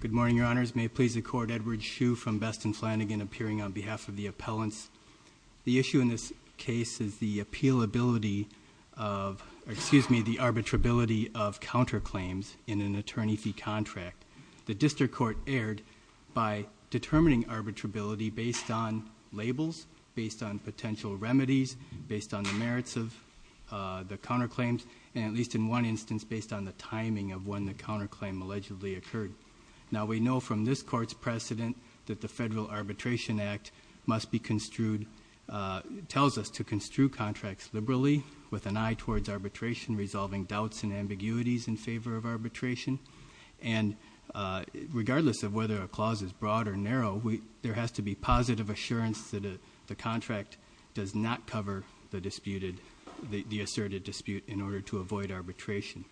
Good morning, your honors. May it please the court, Edward Hsu from Best and Flanagan appearing on behalf of the appellants. The issue in this case is the appealability of, excuse me, the arbitrability of counterclaims in an attorney fee contract. The district court erred by determining arbitrability based on labels, based on potential remedies, based on the merits of the counterclaims, and at least in one instance, based on the timing of when the counterclaim allegedly occurred. Now we know from this court's precedent that the Federal Arbitration Act must be construed, tells us to construe contracts liberally with an eye towards arbitration, resolving doubts and ambiguities in favor of arbitration. And regardless of whether a clause is broad or narrow, there has to be positive assurance that the contract does not cover the disputed, the asserted dispute in order to avoid arbitration.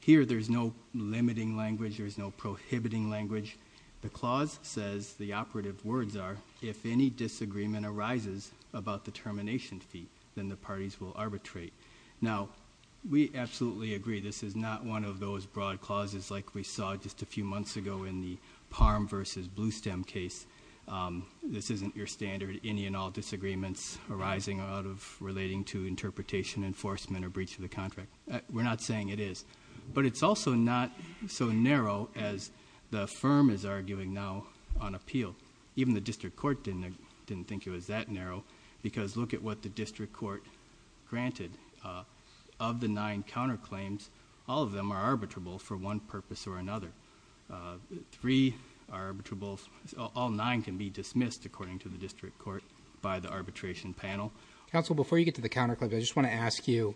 Here there's no limiting language, there's no prohibiting language. The clause says, the operative words are, if any disagreement arises about the termination fee, then the parties will arbitrate. Now we absolutely agree this is not one of those broad clauses like we saw just a few months ago in the Palm v. Bluestem case. This isn't your standard any and all disagreements arising out of relating to interpretation, enforcement, or breach of the contract. We're not saying it is. But it's also not so narrow as the firm is arguing now on appeal. Even the district court didn't think it was that narrow, because look at what the district court granted. Of the nine counterclaims, all of them are arbitrable for one purpose or another. Three are arbitrable, all nine can be dismissed according to the district court by the arbitration panel. Counsel, before you get to the counterclaim, I just want to ask you,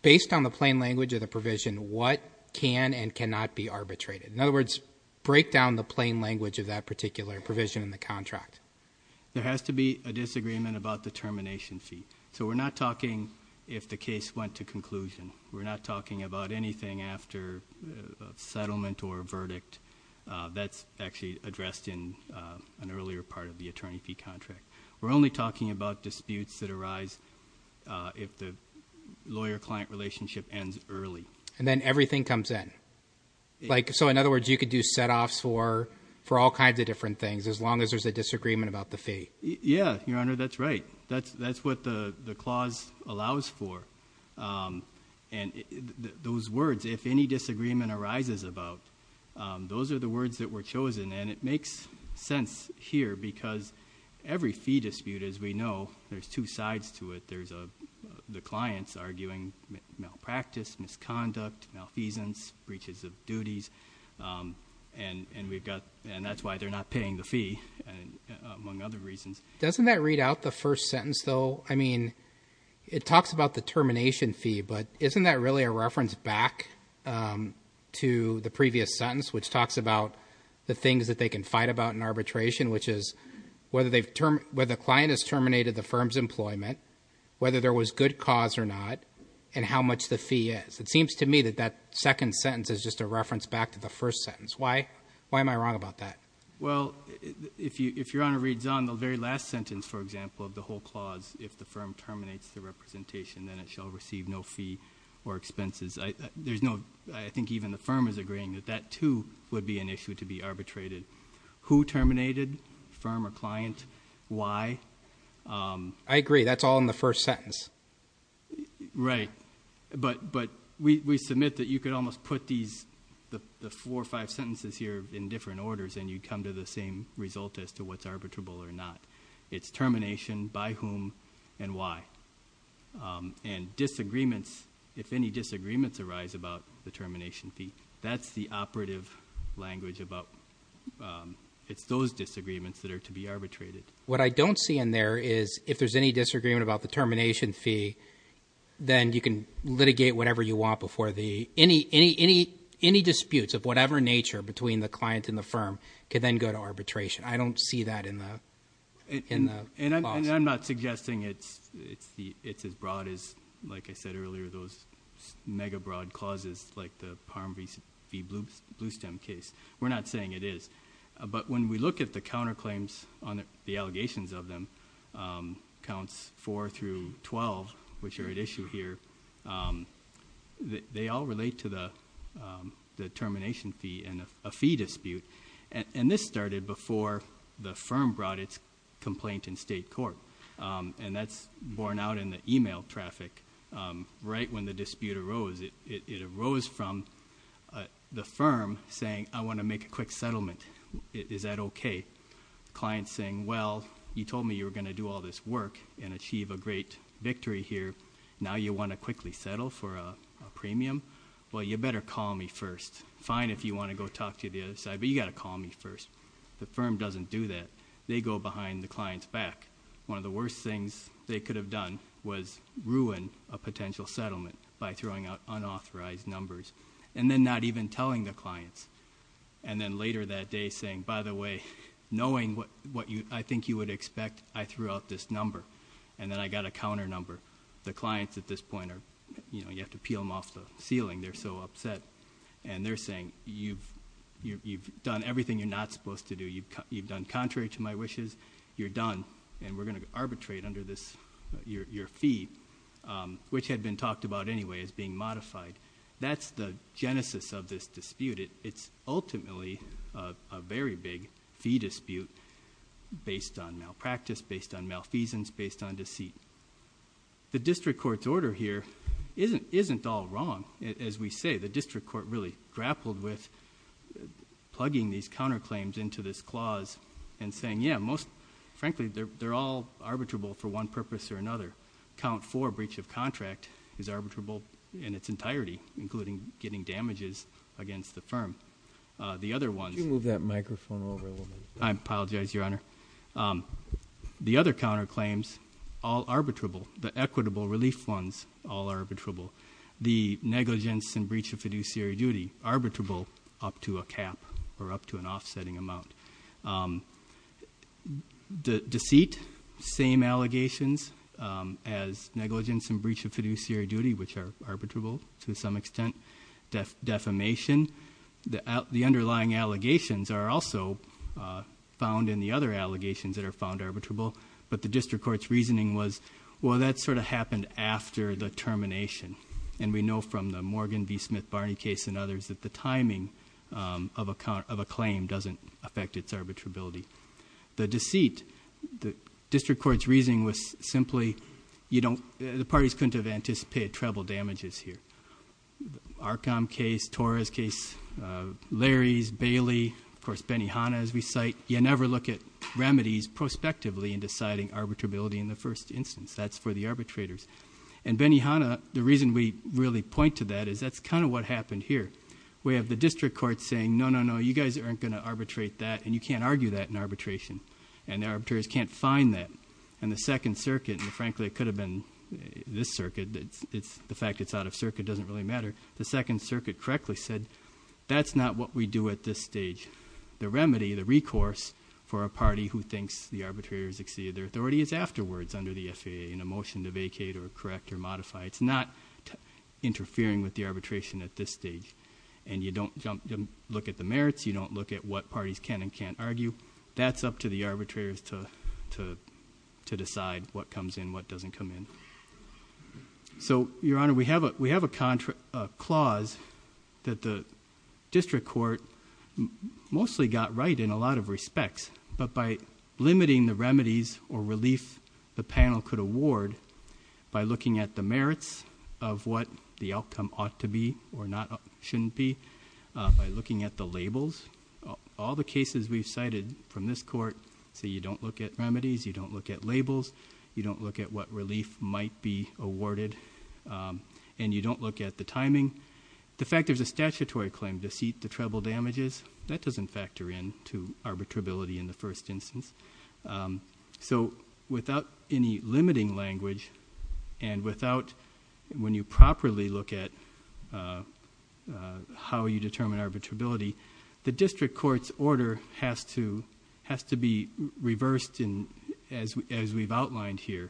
based on the plain language of the provision, what can and cannot be arbitrated? In other words, break down the plain language of that particular provision in the contract. There has to be a disagreement about the termination fee. So we're not talking if the case went to conclusion. We're not talking about anything after a settlement or a verdict. That's actually addressed in an earlier part of the attorney fee contract. We're only talking about disputes that arise if the lawyer-client relationship ends early. And then everything comes in. So in other words, you could do set-offs for all kinds of different things, as long as there's a disagreement about the fee. Yeah, Your Honor, that's right. That's what the clause allows for. And those words, if any disagreement arises about, those are the words that were chosen. And it makes sense here because every fee dispute, as we know, there's two sides to it. There's the clients arguing malpractice, misconduct, malfeasance, breaches of duties. And that's why they're not paying the fee, among other reasons. Doesn't that read out the first sentence, though? I mean, it talks about the termination fee, but isn't that really a reference back to the previous sentence, which talks about the things that they can fight about in arbitration, which is whether the client has terminated the firm's employment, whether there was good cause or not, and how much the fee is. It seems to me that that second sentence is just a reference back to the first sentence. Why am I wrong about that? Well, if Your Honor reads on the very last sentence, for example, of the whole clause, if the firm terminates the representation, then it shall receive no fee or expenses. There's no, I think even the firm is agreeing that that, too, would be an issue to be arbitrated. Who terminated? Firm or client? Why? I agree. That's all in the first sentence. Right. But we submit that you could almost put these, the four or five sentences here in different orders, and you'd come to the same result as to what's arbitrable or not. It's termination, by whom, and why. And disagreements, if any disagreements arise about the termination fee, that's the operative language about, it's those disagreements that are to be arbitrated. What I don't see in there is if there's any disagreement about the termination fee, then you can litigate whatever you want before the, any, any, any, any disputes of whatever nature between the client and the firm can then go to arbitration. I don't see that in the, in the clause. And I'm not suggesting it's, it's the, it's as broad as, like I said earlier, those mega broad clauses like the Parm v. Bluestem case. We're not saying it is. But when we look at the counterclaims on the, the allegations of them, counts four through 12, which are at issue here, they all relate to the, the fee, a fee dispute. And this started before the firm brought its complaint in state court. And that's borne out in the email traffic. Right when the dispute arose, it arose from the firm saying, I want to make a quick settlement. Is that okay? Client's saying, well, you told me you were going to do all this work and achieve a great victory here. Now you want to quickly settle for a, a premium? Well, you better call me first. Fine if you want to go talk to the other side, but you got to call me first. The firm doesn't do that. They go behind the client's back. One of the worst things they could have done was ruin a potential settlement by throwing out unauthorized numbers and then not even telling the clients. And then later that day saying, by the way, knowing what, what you, I think you would expect, I threw out this number. And then I got a counter number. The client's at this point, or, you know, you have to peel them off the ceiling. They're so upset. And they're saying you've, you've done everything you're not supposed to do. You've, you've done contrary to my wishes. You're done. And we're going to arbitrate under this, your, your fee, which had been talked about anyway as being modified. That's the genesis of this dispute. It's ultimately a very big fee dispute based on malpractice, based on malfeasance, based on deceit. The district court's order here isn't, isn't all wrong. As we say, the district court really grappled with plugging these counterclaims into this clause and saying, yeah, most, frankly, they're all arbitrable for one purpose or another. Count 4, breach of contract, is arbitrable in its entirety, including getting damages against the firm. The other ones... Can you move that microphone over a little bit? I apologize, Your Honor. The other counterclaims, all arbitrable. The equitable relief funds, all arbitrable. The negligence and breach of fiduciary duty, arbitrable up to a cap or up to an offsetting amount. Deceit, same allegations as negligence and breach of fiduciary duty, which are arbitrable to some extent. Defamation, the, the underlying allegations are also found in the other allegations that are found arbitrable. But the district court's reasoning was, well, that sort of happened after the termination. And we know from the Morgan v. Smith Barney case and others that the timing of a claim doesn't affect its arbitrability. The deceit, the district court's reasoning was simply, you don't, the parties couldn't have anticipated treble damages here. Arkham case, Torres case, Larry's, Bailey, of course, Benihana as we cite, you never look at remedies prospectively in deciding arbitrability in the first instance. That's for the arbitrators. And Benihana, the reason we really point to that is that's kind of what happened here. We have the district court saying, no, no, no, you guys aren't going to arbitrate that and you can't argue that in arbitration. And it could have been this circuit. It's the fact it's out of circuit doesn't really matter. The second circuit correctly said, that's not what we do at this stage. The remedy, the recourse for a party who thinks the arbitrator has exceeded their authority is afterwards under the FAA in a motion to vacate or correct or modify. It's not interfering with the arbitration at this stage. And you don't jump, look at the merits. You don't look at what parties can and can't argue. That's up to the arbitrators to decide what comes in, what doesn't come in. So, Your Honor, we have a clause that the district court mostly got right in a lot of respects. But by limiting the remedies or relief the panel could award by looking at the merits of what the outcome ought to be or shouldn't be, by looking at the labels, all the cases we've cited from this court, so you don't look at remedies, you don't look at labels, you don't look at what relief might be awarded, and you don't look at the timing. The fact there's a statutory claim, deceit to treble damages, that doesn't factor in to arbitrability in the first instance. So without any limiting language and without when you properly look at how you determine arbitrability, the district court's order has to be reversed as we've outlined here.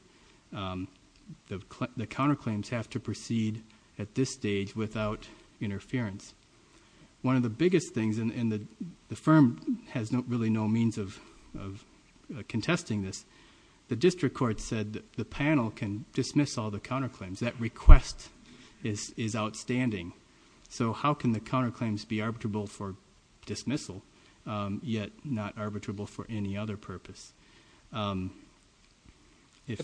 The counterclaims have to proceed at this stage without interference. One of the biggest things, and the firm has really no means of doing this, that request is outstanding. So how can the counterclaims be arbitrable for dismissal, yet not arbitrable for any other purpose? But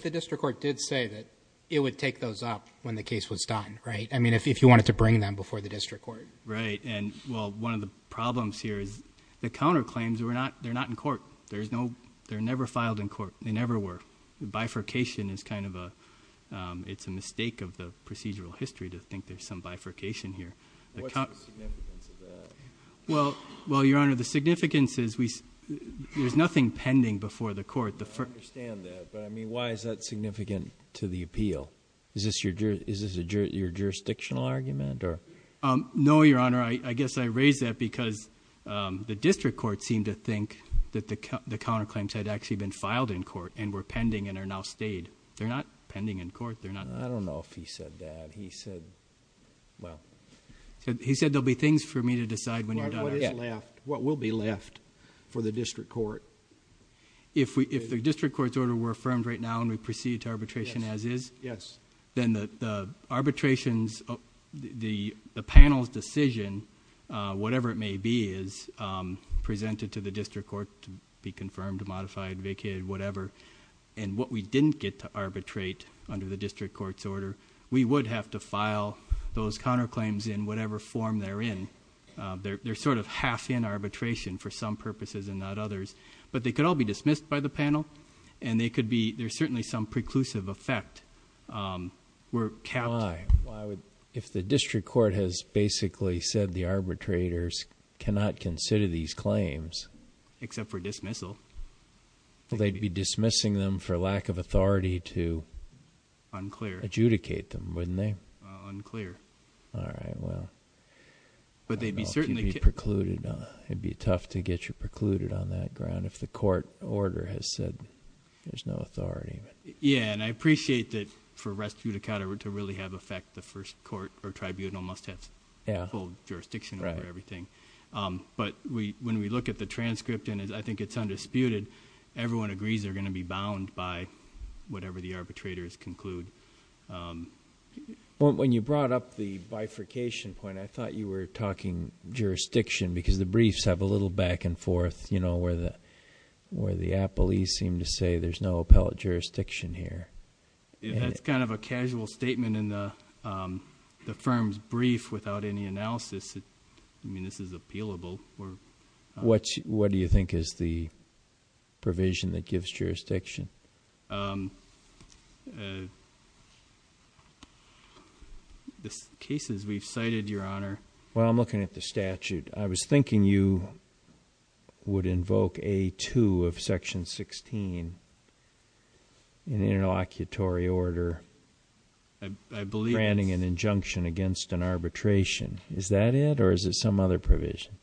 the district court did say that it would take those up when the case was done, right? I mean, if you wanted to bring them before the district court. Right. And, well, one of the problems here is the counterclaims, they're not in court. They're never filed in court. They never were. The bifurcation is kind of a, it's a mistake of the procedural history to think there's some bifurcation here. What's the significance of that? Well, Your Honor, the significance is we, there's nothing pending before the court. I understand that, but I mean, why is that significant to the appeal? Is this your jurisdictional argument or? No, Your Honor. I guess I raise that because the district court seemed to think that the counterclaims had actually been filed in court and were pending and are now stayed. They're not pending in court. They're not. I don't know if he said that. He said, well. He said there'll be things for me to decide when you're done. What is left? What will be left for the district court? If we, if the district court's order were affirmed right now and we proceed to arbitration as is, then the arbitration's, the panel's decision, whatever it may be, is presented to the district court to be confirmed, modified, vacated, whatever. What we didn't get to arbitrate under the district court's order, we would have to file those counterclaims in whatever form they're in. They're sort of half in arbitration for some purposes and not others, but they could all be dismissed by the panel and they could be, there's certainly some preclusive effect. We're capped. Why? Why would, if the district court has basically said the arbitrators cannot consider these claims. Except for dismissal. Well, they'd be dismissing them for lack of authority to. Unclear. Adjudicate them, wouldn't they? All right, well. But they'd be certainly. I don't know if you'd be precluded on, it'd be tough to get you precluded on that ground if the court order has said there's no authority. Yeah, and I appreciate that for rest to really have effect the first court or tribunal must have full jurisdiction over everything. But when we look at the transcript and I think it's undisputed, everyone agrees they're going to be bound by whatever the arbitrators conclude. When you brought up the bifurcation point, I thought you were talking jurisdiction because the briefs have a little back and forth, you know, where the, where the appellees seem to say there's no appellate jurisdiction here. That's kind of a casual statement in the firm's brief without any analysis. I mean, this is appealable. What do you think is the provision that gives jurisdiction? The cases we've cited, Your Honor. Well, I'm looking at the statute. I was thinking you would invoke a two of section 16 in interlocutory order. I believe. Branding an injunction against an arbitration. Is that it or is it some other provision?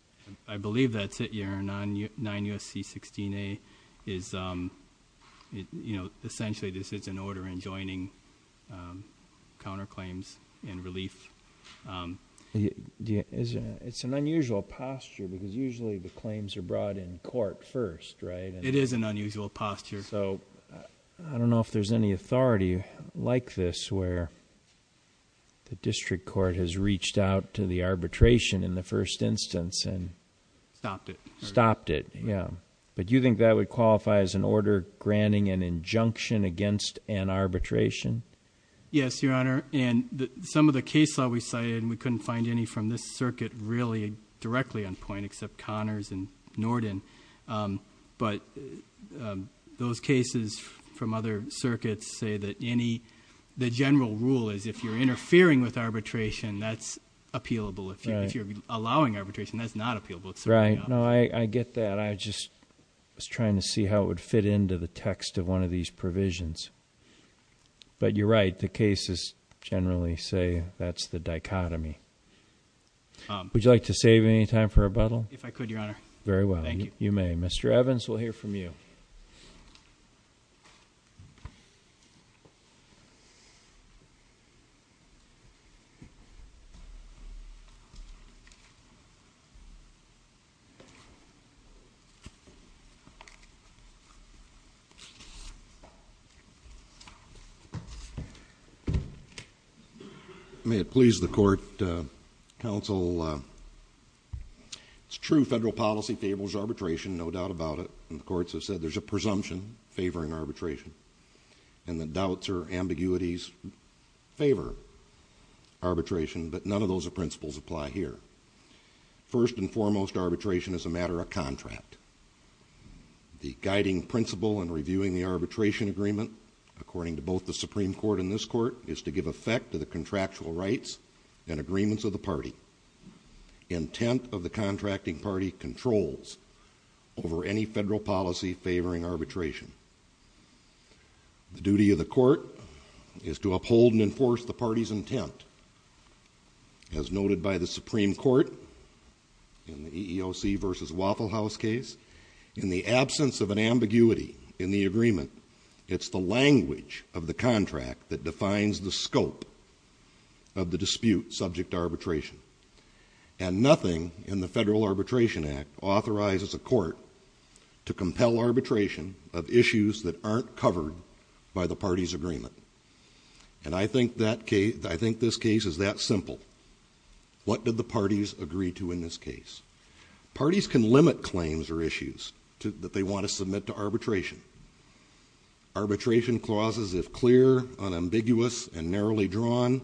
I believe that's it, Your Honor. 9 U.S.C. 16A is, you know, essentially this is an order enjoining counterclaims and relief. It's an unusual posture because usually the claims are brought in court first, right? It is an unusual posture. So I don't know if there's any authority like this where the district court has reached out to the arbitration in the first instance and. Stopped it. Stopped it, yeah. But you think that would qualify as an order granting an injunction against an arbitration? Yes, Your Honor. And some of the cases that we cited, we couldn't find any from this circuit really directly on point except Connors and Norden. But those cases from other circuits say that any, the general rule is if you're interfering with arbitration, that's appealable. If you're allowing arbitration, that's not appealable. Right. No, I get that. I just was trying to see how it would fit into the text of one of these provisions. But you're right, the cases generally say that's the dichotomy. Would you like to save any time for rebuttal? If I could, Your Honor. Very well. Thank you. You may. Mr. Evans, we'll hear from you. May it please the court, counsel, it's true federal policy favors arbitration, no doubt about it. And the courts have said there's a presumption favoring arbitration. And the doubts or ambiguities favor arbitration. But none of those principles apply here. First and foremost, arbitration is a matter of contract. The guiding principle in reviewing the arbitration agreement, according to both the Supreme Court and this court, is to give effect to the contractual rights and agreements of the party. Intent of the contracting party controls over any federal policy favoring arbitration. The duty of the court is to uphold and enforce the party's intent. As noted by the Supreme Court in the EEOC versus Waffle House case, in the absence of an ambiguity in the agreement, it's the language of the contract that defines the scope of the dispute subject to arbitration. And nothing in the Federal Arbitration Act authorizes a court to compel arbitration of issues that aren't covered by the party's agreement. And I think that case, I think this case is that simple. What do the parties agree to in this case? Parties can limit claims or issues that they want to submit to arbitration. Arbitration clauses, if clear, unambiguous, and narrowly drawn,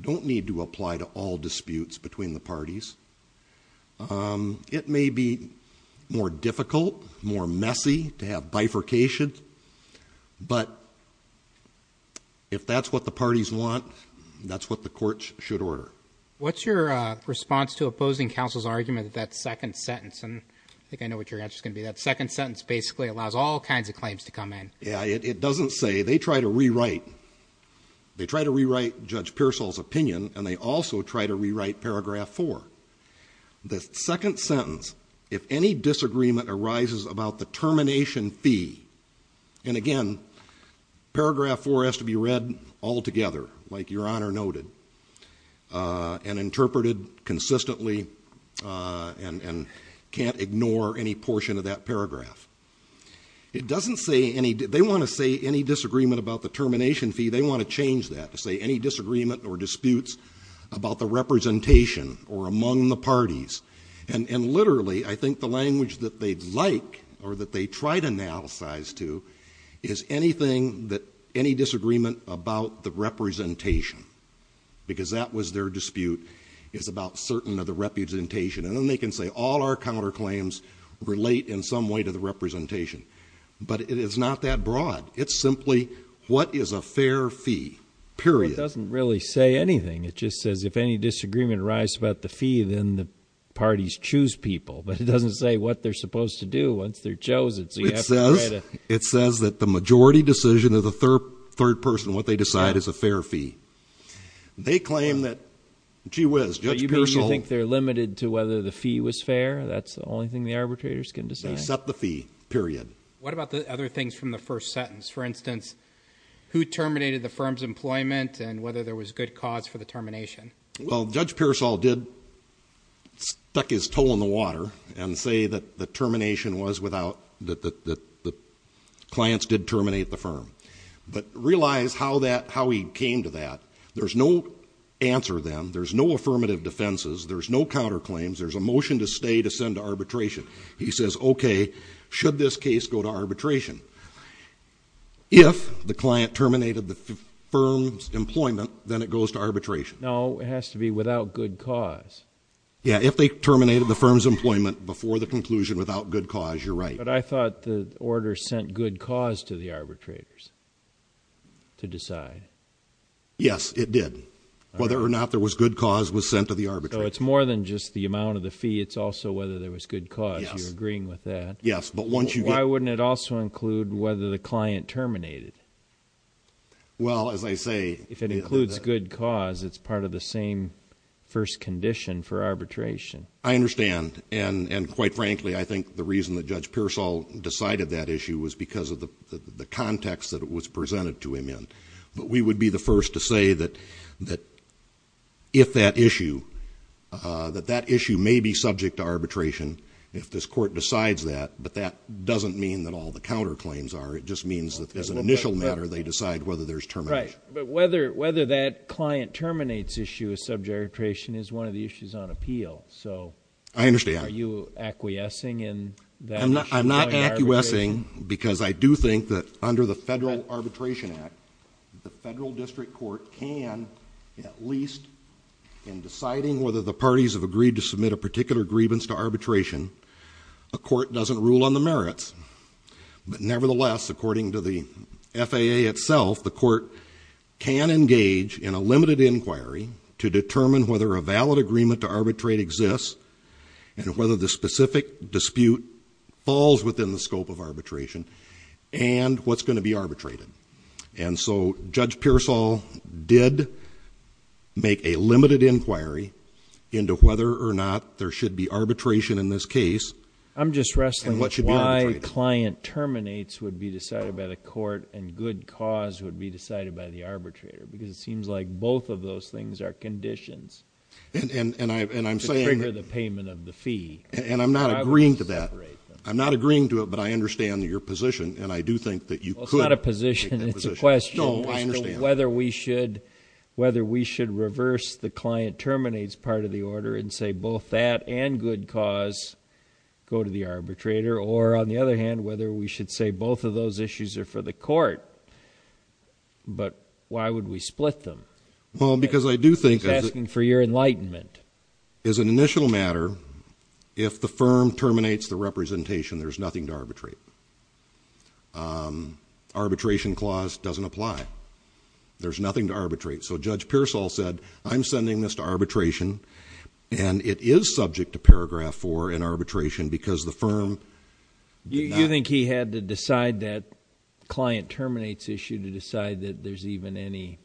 don't need to apply to all disputes between the parties. It may be more difficult, more messy to have bifurcation, but if that's what the parties want, that's what the courts should order. What's your response to opposing counsel's argument that that second sentence, and I think I know what your answer's going to be, that second sentence basically allows all kinds of claims to come in. Yeah, it doesn't say. They try to rewrite. They try to rewrite Judge Pearsall's opinion, and they also try to rewrite Paragraph 4. The second sentence, if any disagreement arises about the termination fee, and again, Paragraph 4 has to be read all together, like your Honor noted, and interpreted consistently, and can't ignore any portion of that paragraph. It doesn't say any, they want to say any disagreement about the termination fee. They want to change that to say any disagreement or disputes about the representation or among the parties. And literally, I think the language that they'd like, or that they try to analyze to, is anything that, any disagreement about the representation, because that was their dispute, is about certain of the representation. And then they can say all our counterclaims relate in some way to the representation. But it is not that broad. It's simply what is a fair fee, period. It doesn't really say anything. It just says if any disagreement arises about the fee, then the parties choose people. But it doesn't say what they're supposed to do once they're chosen. So you have to write a... It says that the majority decision of the third person, what they decide is a fair fee. They claim that, gee whiz, Judge Pearsall... You mean you think they're limited to whether the fee was fair? That's the only thing the arbitrators can decide? Except the fee, period. What about the other things from the first sentence? For instance, who terminated the firm's employment, and whether there was good cause for the termination? Well, Judge Pearsall did stuck his toe in the water and say that the termination was without... that the clients did terminate the firm. But realize how he came to that. There's no answer then. There's no affirmative defenses. There's no counterclaims. There's a motion to stay to send to arbitration. He says, okay, should this case go to arbitration? If the client terminated the firm's employment, then it goes to arbitration. No, it has to be without good cause. Yeah, if they terminated the firm's employment before the conclusion without good cause, you're right. But I thought the order sent good cause to the arbitrators to decide. Yes, it did. Whether or not there was good cause was sent to the arbitrators. So it's more than just the amount of the fee. It's also whether there was good cause. Yes. You're agreeing with that. Yes, but once you get... Why wouldn't it also include whether the client terminated? Well, as I say... If it includes good cause, it's part of the same first condition for arbitration. I understand. And quite frankly, I think the reason that Judge Pearsall decided that issue was because of the context that it was presented to him in. But we would be the first to say that if that issue, that that issue may be subject to arbitration if this court decides that. But that doesn't mean that all the counterclaims are. It just means that as an initial matter, they decide whether there's termination. Right. But whether that client terminates issue of subject arbitration is one of the issues on appeal. So... I understand. Are you acquiescing in that issue? I'm not acquiescing because I do think that under the Federal Arbitration Act, the Federal District Court can at least, in deciding whether the parties have agreed to submit a particular grievance to arbitration, a court doesn't rule on the merits. But nevertheless, according to the FAA itself, the court can engage in a limited inquiry to determine whether a valid agreement to arbitrate exists and whether the specific dispute falls within the scope of arbitration and what's going to be arbitrated. And so Judge Pearsall did make a limited inquiry into whether or not there should be arbitration in this case. I'm just wrestling with why client terminates would be decided by the court and good cause would be decided by the arbitrator. Because it seems like both of those things are conditions. And I'm saying... To trigger the payment of the fee. And I'm not agreeing to that. I'm not agreeing to it, but I understand your position. And I do think that you could... Well, it's not a position. It's a question as to whether we should reverse the client go to the arbitrator or, on the other hand, whether we should say both of those issues are for the court. But why would we split them? Well, because I do think... It's asking for your enlightenment. As an initial matter, if the firm terminates the representation, there's nothing to arbitrate. Arbitration clause doesn't apply. There's nothing to arbitrate. So Judge Pearsall said, I'm sending this to arbitration. And it is subject to paragraph four in arbitration because the firm... You think he had to decide that client terminates issue to decide that there's even any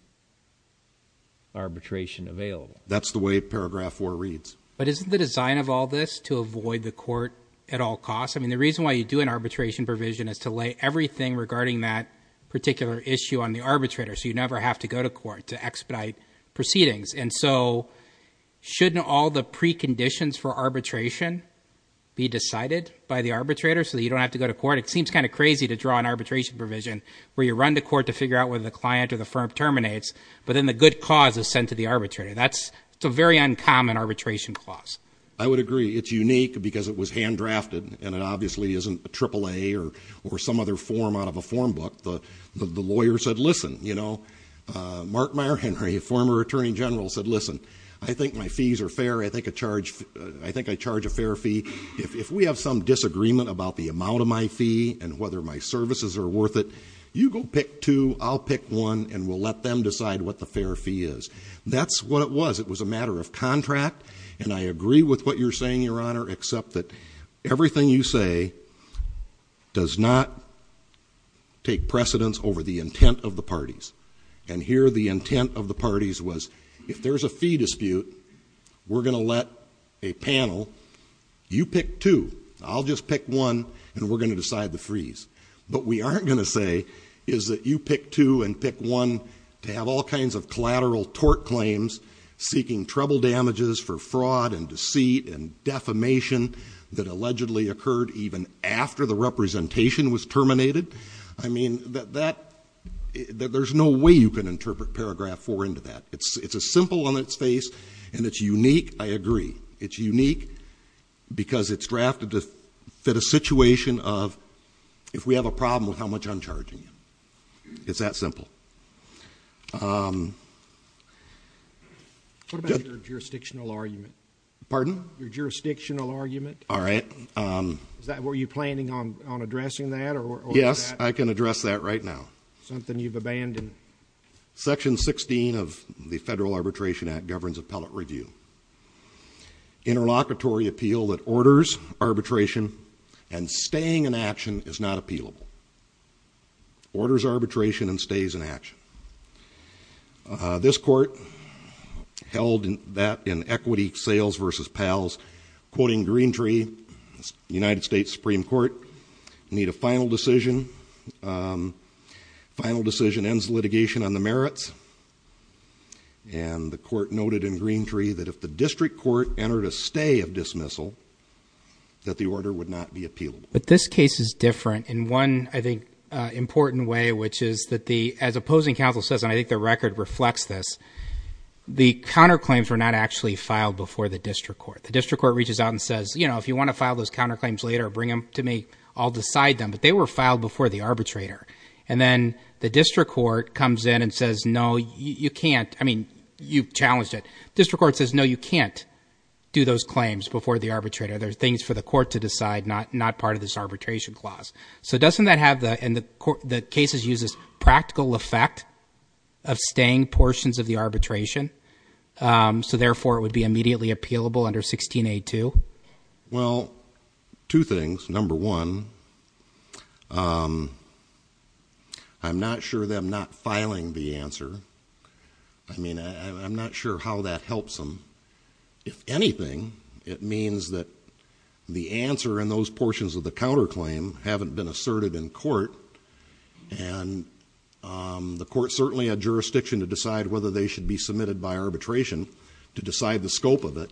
arbitration available? That's the way paragraph four reads. But isn't the design of all this to avoid the court at all costs? I mean, the reason why you do an arbitration provision is to lay everything regarding that particular issue on the arbitrator so you never have to go to court to expedite proceedings. And so shouldn't all the preconditions for arbitration be decided by the arbitrator so that you don't have to go to court? It seems kind of crazy to draw an arbitration provision where you run to court to figure out whether the client or the firm terminates, but then the good cause is sent to the arbitrator. That's a very uncommon arbitration clause. I would agree. It's unique because it was hand-drafted and it obviously isn't a triple A or some other form out of a form book. The lawyer said, listen, you know, Mark Meyer Henry, former Attorney General, said, listen, I think my fees are fair. I think I charge a fair fee. If we have some disagreement about the amount of my fee and whether my services are worth it, you go pick two, I'll pick one, and we'll let them decide what the fair fee is. That's what it was. It was a matter of contract. And I agree with what you're saying, Your Honor, except that everything you say does not take precedence over the intent of the parties. And here the intent of the parties was, if there's a fee dispute, we're going to let a panel, you pick two, I'll just pick one, and we're going to decide the fees. But we aren't going to say, is that you pick two and pick one to have all kinds of collateral tort claims, seeking trouble damages for fraud and deceit and defamation that allegedly occurred even after the representation was terminated? I mean, there's no way you can interpret paragraph four into that. It's a simple on its face and it's unique. I agree. It's unique because it's drafted to fit a situation of if we have a problem with how much uncharging. It's that simple. What about your jurisdictional argument? Pardon? Your jurisdictional argument? All right. Is that what you're planning on addressing that or? Yes, I can address that right now. Something you've abandoned. Section 16 of the Federal Arbitration Act governs appellate review. Interlocutory appeal that orders arbitration and staying in action is not appealable. Orders arbitration and stays in action. This court held that in equity sales versus pals, quoting Greentree, United States Supreme Court, need a final decision. Final decision ends litigation on the merits. And the court noted in Greentree that if the district court entered a stay of dismissal, that the order would not be appealable. But this case is different in one, I think, important way, which is that the, as opposing counsel says, and I think the record reflects this, the counterclaims were not actually filed before the district court. The district court reaches out and says, you know, if you want to file those counterclaims later, bring them to me, I'll decide them. But they were And the district court comes in and says, no, you can't. I mean, you've challenged it. District court says, no, you can't do those claims before the arbitrator. They're things for the court to decide, not part of this arbitration clause. So doesn't that have the, and the court, the cases use this practical effect of staying portions of the arbitration. So therefore it would be immediately appealable under 16A2? Well, two things. Number one, I'm not sure that I'm not filing the answer. I mean, I'm not sure how that helps them. If anything, it means that the answer in those portions of the counterclaim haven't been asserted in court. And the court certainly had jurisdiction to decide whether they should be submitted by arbitration to decide the scope of it.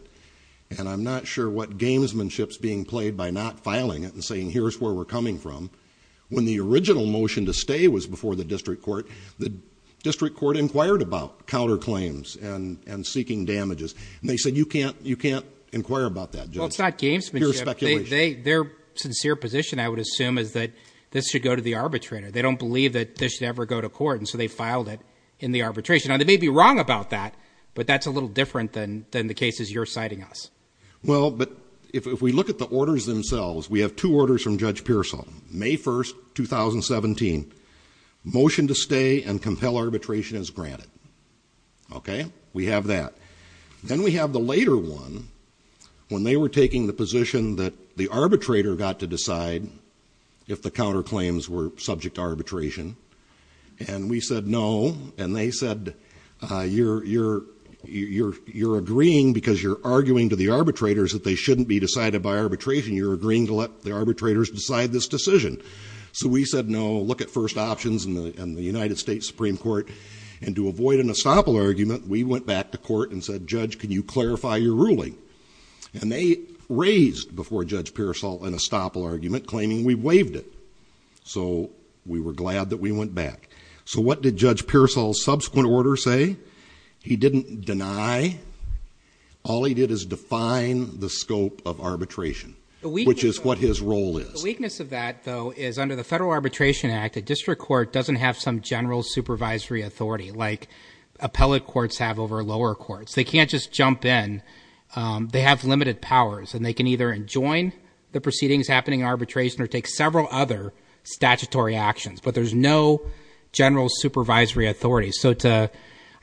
And I'm not sure what gamesmanship's being played by not filing it and saying, here's where we're coming from. When the original motion to stay was before the district court, the district court inquired about counterclaims and, and seeking damages. And they said, you can't, you can't inquire about that. Well, it's not gamesmanship. Pure speculation. They, their sincere position, I would assume, is that this should go to the arbitrator. They don't believe that this should ever go to court. And so they filed it in the arbitration. Now they may be wrong about that, but that's a little different than, than the cases you're citing us. Well, but if, if we look at the orders themselves, we have two orders from Judge Pearsall, May 1st, 2017, motion to stay and compel arbitration as granted. Okay. We have that. Then we have the later one when they were taking the position that the arbitrator got to decide if the counterclaims were subject to arbitration. And we said, no. And they said, you're, you're, you're, you're agreeing because you're arguing to the arbitrators that they shouldn't be decided by arbitration. You're agreeing to let the arbitrators decide this decision. So we said, no, look at first options and the United States Supreme Court. And to avoid an estoppel argument, we went back to court and said, judge, can you clarify your ruling? And they raised before Judge Pearsall an estoppel argument claiming we waived it. So we were glad that we went back. So what did Judge Pearsall's subsequent order say? He didn't deny. All he did is define the scope of arbitration, which is what his role is. The weakness of that though, is under the Federal Arbitration Act, a district court doesn't have some general supervisory authority like appellate courts have over lower courts. They can't just jump in. They have limited powers and they can either enjoin the proceedings or they can't. General supervisory authority. So to,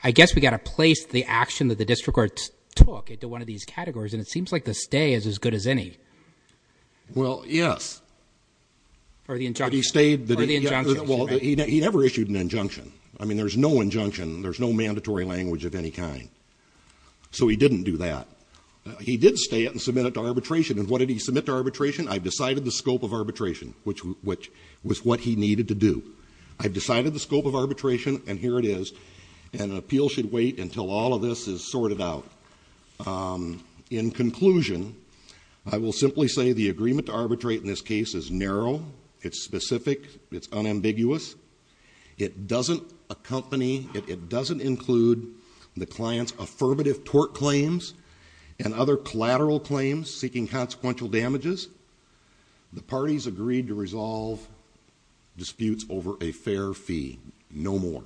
I guess we got to place the action that the district court took into one of these categories. And it seems like the stay is as good as any. Well, yes. Or the injunction. He stayed. Or the injunction. Well, he never issued an injunction. I mean, there's no injunction. There's no mandatory language of any kind. So he didn't do that. He did stay and submit it to arbitration. And what did he submit to arbitration? I've decided the scope of arbitration, which, which was what he needed to do. I've decided the scope of arbitration and here it is. And an appeal should wait until all of this is sorted out. In conclusion, I will simply say the agreement to arbitrate in this case is narrow. It's specific. It's unambiguous. It doesn't accompany, it doesn't include the client's affirmative tort claims and other collateral claims seeking consequential damages. The parties agreed to resolve disputes over a fair fee. No more.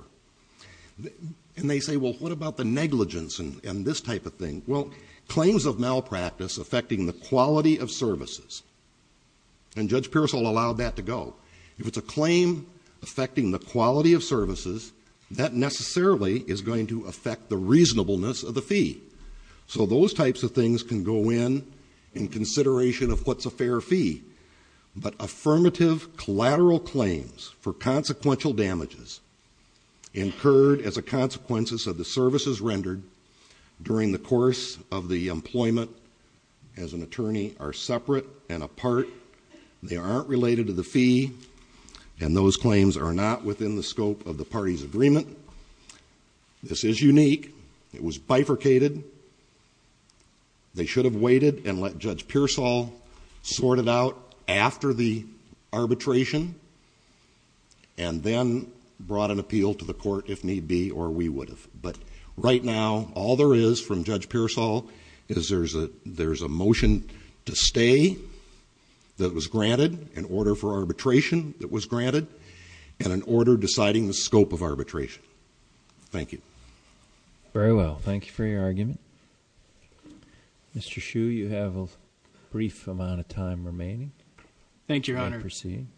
And they say, well, what about the negligence and this type of thing? Well, claims of malpractice affecting the quality of services. And Judge Pearsall allowed that to go. If it's a claim affecting the quality of services, that necessarily is going to affect the reasonableness of the fee. So those types of things can go in, in consideration of what's a fair fee. But affirmative collateral claims for consequential damages incurred as a consequence of the services rendered during the course of the employment as an attorney are separate and apart. They aren't related to the fee. And those claims are not within the scope of the party's agreement. This is unique. It was bifurcated. They should have waited and let Judge Pearsall sort it out after the arbitration and then brought an appeal to the court if need be, or we would have. But right now, all there is from Judge Pearsall is there's a motion to stay that was granted, an order for arbitration that was granted, and an order deciding the scope of arbitration. Thank you. Very well. Thank you for your argument. Mr. Hsu, you have a brief amount of time remaining. Thank you, Your Honor. Thank you,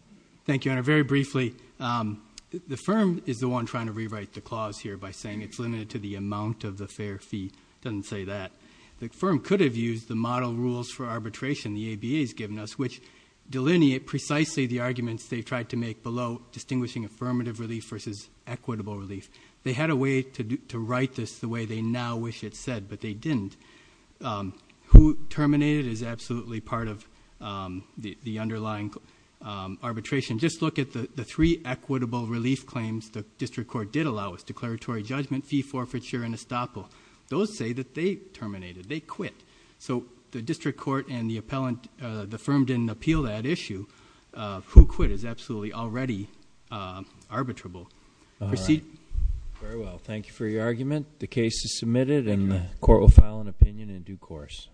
Your Honor. Very briefly, the firm is the one trying to rewrite the clause here by saying it's limited to the amount of the fair fee. It doesn't say that. The firm could have used the model rules for arbitration the ABA has given us, which delineate precisely the arguments they tried to make below, distinguishing affirmative relief versus equitable relief. They had a way to write this the way they now wish it said, but they didn't. Who terminated is absolutely part of the underlying arbitration. Just look at the three equitable relief claims the district court did allow us, declaratory judgment, fee forfeiture, and estoppel. Those say that they terminated. They quit. So the district court and the firm didn't appeal that issue. Who quit is absolutely already arbitrable. Proceed. All right. Very well. Thank you for your argument. The case is submitted and the court will file an opinion in due course.